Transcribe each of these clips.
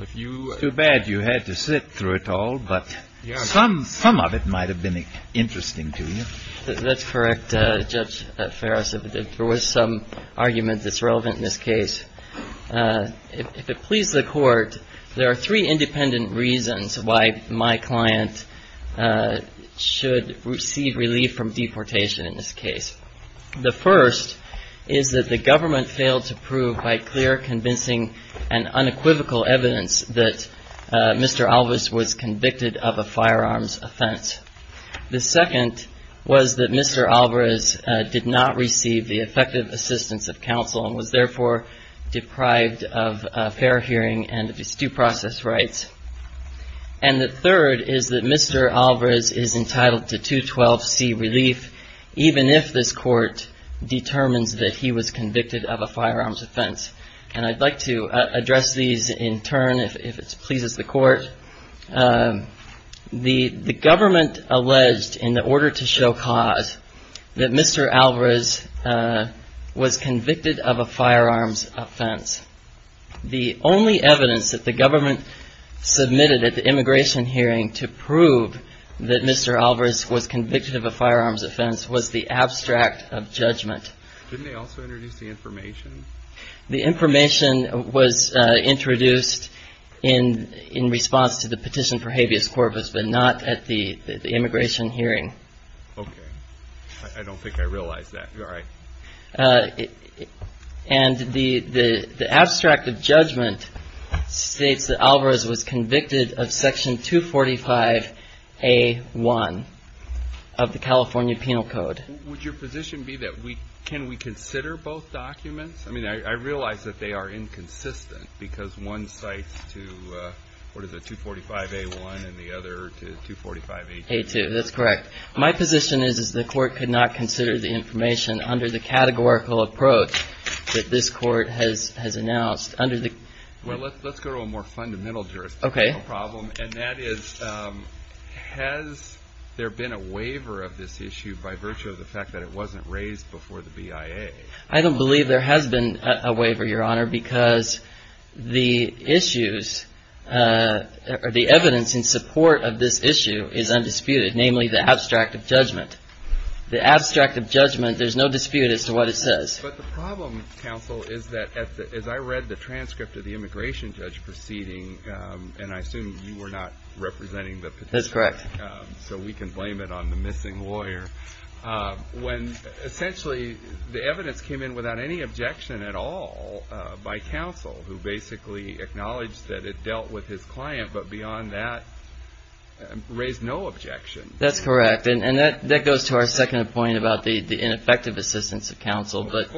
It's too bad you had to sit through it all, but some of it might have been interesting to you. That's correct, Judge Ferris. There was some argument that's relevant in this case. If it pleases the Court, there are three independent reasons why my client should receive relief from deportation in this case. The first is that the government failed to prove by clear, convincing, and unequivocal evidence that Mr. Alvarez was convicted of a firearms offense. The second was that Mr. Alvarez did not receive the effective assistance of counsel and was therefore deprived of a fair hearing and due process rights. And the third is that Mr. Alvarez is entitled to 212C relief, even if this Court determines that he was convicted of a firearms offense. And I'd like to address these in turn, if it pleases the Court. The government alleged, in order to show cause, that Mr. Alvarez was convicted of a firearms offense. The only evidence that the government submitted at the immigration hearing to prove that Mr. Alvarez was convicted of a firearms offense was the abstract of judgment. Didn't they also introduce the information? The information was introduced in response to the petition for habeas corpus, but not at the immigration hearing. Okay. I don't think I realize that. All right. And the abstract of judgment states that Alvarez was convicted of Section 245A1 of the California Penal Code. Would your position be that we, can we consider both documents? I mean, I realize that they are inconsistent because one cites to, what is it, 245A1 and the other to 245A2. That's correct. My position is that the Court could not consider the information under the categorical approach that this Court has announced. Well, let's go to a more fundamental jurisdictional problem, and that is, has there been a waiver of this issue by virtue of the fact that it wasn't raised before the BIA? I don't believe there has been a waiver, Your Honor, because the issues or the evidence in support of this issue is undisputed, namely the abstract of judgment. The abstract of judgment, there's no dispute as to what it says. But the problem, counsel, is that as I read the transcript of the immigration judge proceeding, and I assume you were not representing the petitioner. That's correct. So we can blame it on the missing lawyer. When essentially the evidence came in without any objection at all by counsel, who basically acknowledged that it dealt with his client, but beyond that, raised no objection. That's correct, and that goes to our second point about the ineffective assistance of counsel. But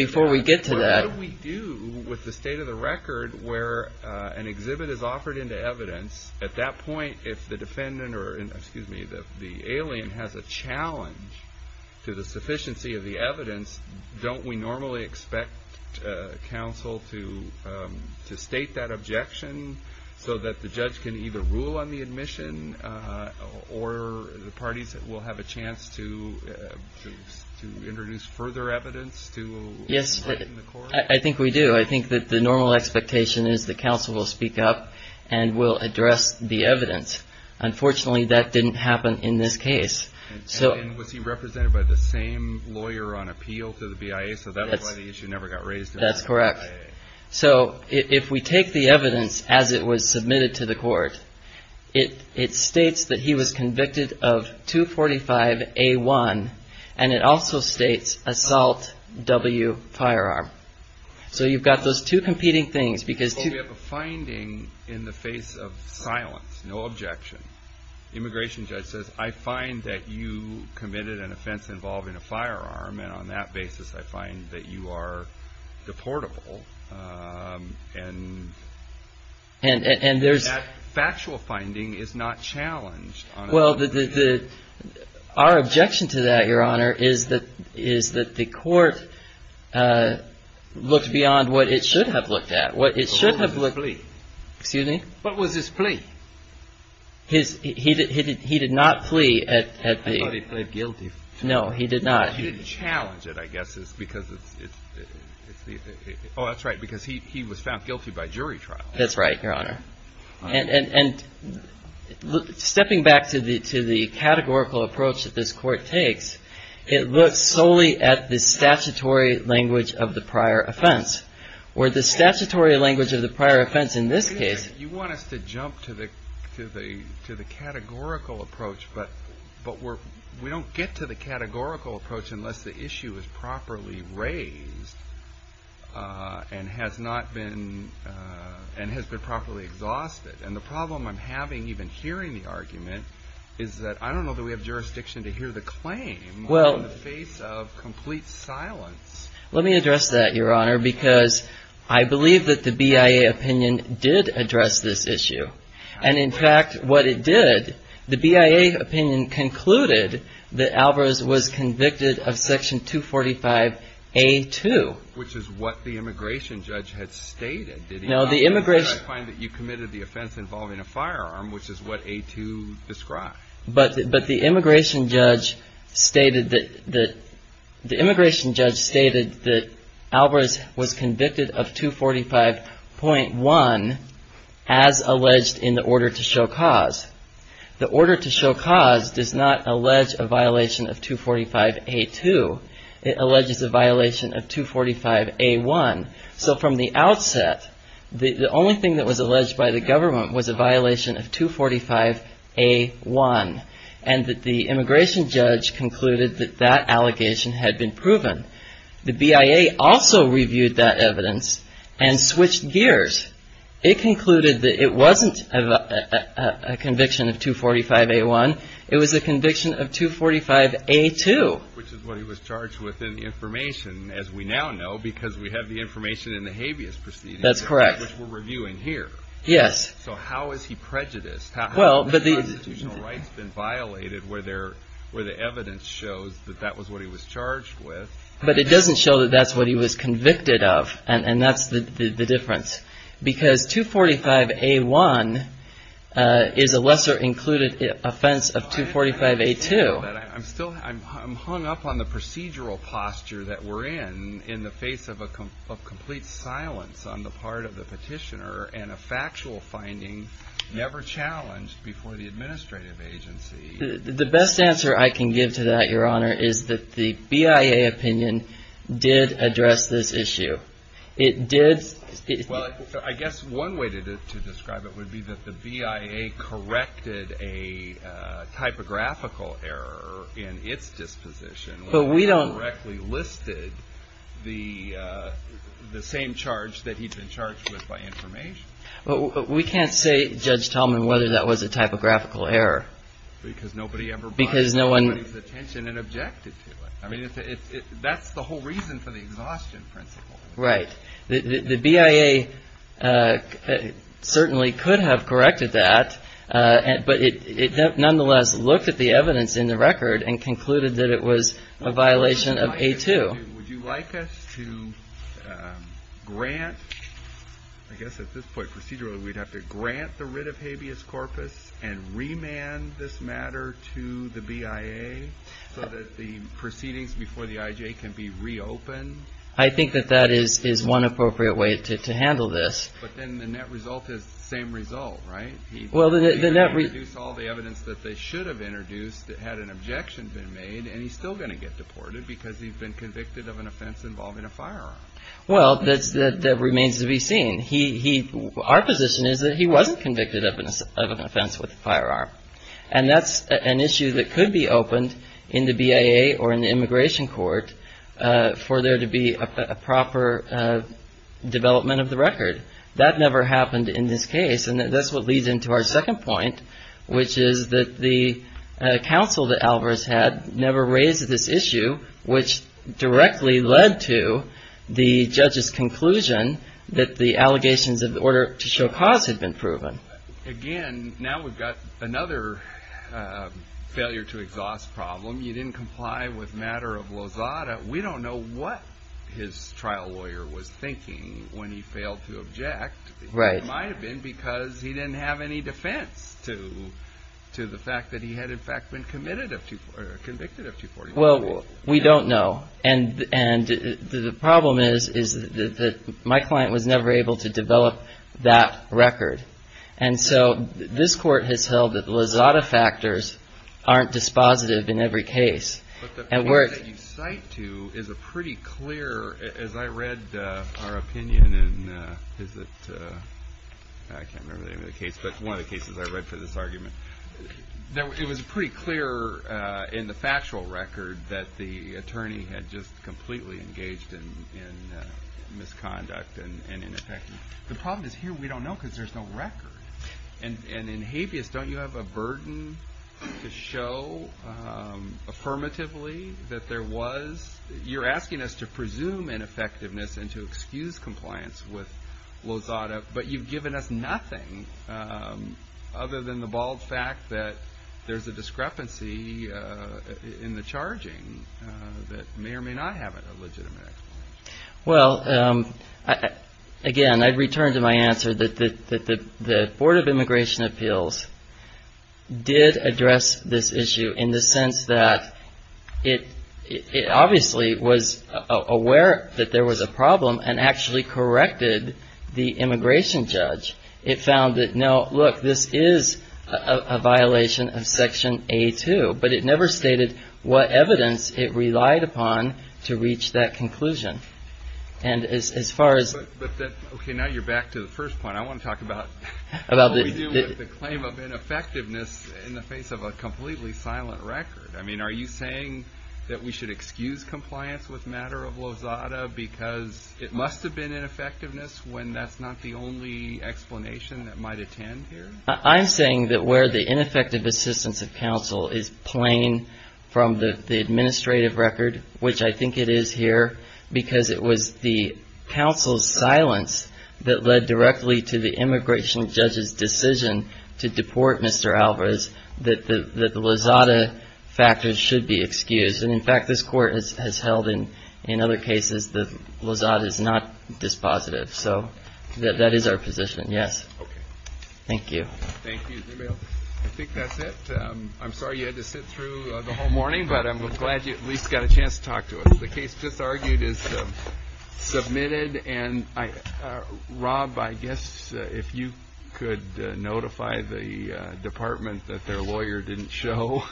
before we get to that. What do we do with the state of the record where an exhibit is offered into evidence? At that point, if the defendant or, excuse me, the alien has a challenge to the sufficiency of the evidence, don't we normally expect counsel to state that objection so that the judge can either rule on the admission or the parties will have a chance to introduce further evidence to the Court? I think we do. I think that the normal expectation is that counsel will speak up and will address the evidence. Unfortunately, that didn't happen in this case. And was he represented by the same lawyer on appeal to the BIA? So that's why the issue never got raised. That's correct. So if we take the evidence as it was submitted to the Court, it states that he was convicted of 245A1, and it also states Assault W. Firearm. So you've got those two competing things. We have a finding in the face of silence, no objection. Immigration judge says, I find that you committed an offense involving a firearm, and on that basis I find that you are deportable. And that factual finding is not challenged. Well, our objection to that, Your Honor, is that the Court looked beyond what it should have looked at. What was his plea? Excuse me? What was his plea? He did not plea at the – I thought he plead guilty. No, he did not. He didn't challenge it, I guess, because it's – oh, that's right, because he was found guilty by jury trial. That's right, Your Honor. And stepping back to the categorical approach that this Court takes, it looks solely at the statutory language of the prior offense. Where the statutory language of the prior offense in this case – to the categorical approach, but we don't get to the categorical approach unless the issue is properly raised and has not been – and has been properly exhausted. And the problem I'm having even hearing the argument is that I don't know that we have jurisdiction to hear the claim in the face of complete silence. Let me address that, Your Honor, because I believe that the BIA opinion did address this issue. And in fact, what it did, the BIA opinion concluded that Alvarez was convicted of Section 245A2. Which is what the immigration judge had stated, did he not? No, the immigration – I find that you committed the offense involving a firearm, which is what A2 described. But the immigration judge stated that Alvarez was convicted of 245.1 as alleged in the order to show cause. The order to show cause does not allege a violation of 245A2. It alleges a violation of 245A1. So from the outset, the only thing that was alleged by the government was a violation of 245A1. And that the immigration judge concluded that that allegation had been proven. The BIA also reviewed that evidence and switched gears. It concluded that it wasn't a conviction of 245A1, it was a conviction of 245A2. Which is what he was charged with in the information, as we now know, because we have the information in the habeas proceedings. That's correct. Which we're reviewing here. Yes. So how is he prejudiced? How have constitutional rights been violated where the evidence shows that that was what he was charged with? But it doesn't show that that's what he was convicted of. And that's the difference. Because 245A1 is a lesser included offense of 245A2. I'm still hung up on the procedural posture that we're in, in the face of complete silence on the part of the petitioner. And a factual finding never challenged before the administrative agency. The best answer I can give to that, Your Honor, is that the BIA opinion did address this issue. It did. Well, I guess one way to describe it would be that the BIA corrected a typographical error in its disposition. But we don't. Which directly listed the same charge that he'd been charged with by information. But we can't say, Judge Tallman, whether that was a typographical error. Because nobody ever bought anybody's attention and objected to it. I mean, that's the whole reason for the exhaustion principle. Right. The BIA certainly could have corrected that. But it nonetheless looked at the evidence in the record and concluded that it was a violation of A2. Would you like us to grant, I guess at this point procedurally, we'd have to grant the writ of habeas corpus and remand this matter to the BIA so that the proceedings before the IJ can be reopened? I think that that is one appropriate way to handle this. But then the net result is the same result, right? Well, the net result is all the evidence that they should have introduced had an objection been made. And he's still going to get deported because he's been convicted of an offense involving a firearm. Well, that remains to be seen. Our position is that he wasn't convicted of an offense with a firearm. And that's an issue that could be opened in the BIA or in the immigration court for there to be a proper development of the record. That never happened in this case. And that's what leads into our second point, which is that the counsel that Alvarez had never raised this issue, which directly led to the judge's conclusion that the allegations of order to show cause had been proven. Again, now we've got another failure to exhaust problem. You didn't comply with matter of Lozada. We don't know what his trial lawyer was thinking when he failed to object. It might have been because he didn't have any defense to the fact that he had, in fact, been convicted of 244. Well, we don't know. And the problem is, is that my client was never able to develop that record. And so this court has held that Lozada factors aren't dispositive in every case. But the point that you cite to is a pretty clear, as I read our opinion in, is it, I can't remember the name of the case, but one of the cases I read for this argument. It was pretty clear in the factual record that the attorney had just completely engaged in misconduct and ineffective. The problem is here we don't know because there's no record. And in habeas, don't you have a burden to show affirmatively that there was? You're asking us to presume ineffectiveness and to excuse compliance with Lozada, but you've given us nothing other than the bald fact that there's a discrepancy in the charging that may or may not have a legitimate. Well, again, I'd return to my answer that the Board of Immigration Appeals did address this issue in the sense that it obviously was aware that there was a problem and actually corrected the immigration judge. It found that, no, look, this is a violation of Section A2, but it never stated what evidence it relied upon to reach that conclusion. And as far as. OK, now you're back to the first point. I want to talk about the claim of ineffectiveness in the face of a completely silent record. I mean, are you saying that we should excuse compliance with matter of Lozada because it must have been in effectiveness when that's not the only explanation that might attend here? I'm saying that where the ineffective assistance of counsel is plain from the administrative record, which I think it is here because it was the counsel's silence that led directly to the immigration judge's decision to deport Mr. Alvarez, that the Lozada factors should be excused. And, in fact, this Court has held in other cases that Lozada is not dispositive. So that is our position, yes. OK. Thank you. Thank you. I think that's it. I'm sorry you had to sit through the whole morning, but I'm glad you at least got a chance to talk to us. The case just argued is submitted. And, Rob, I guess if you could notify the department that their lawyer didn't show,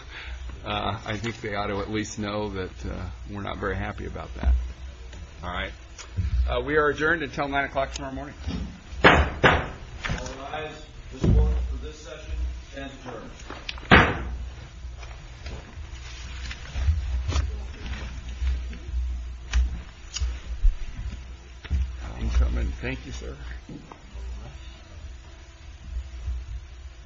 I think they ought to at least know that we're not very happy about that. All right. We are adjourned until 9 o'clock tomorrow morning. All rise. This Court for this session stands adjourned. Thank you, sir.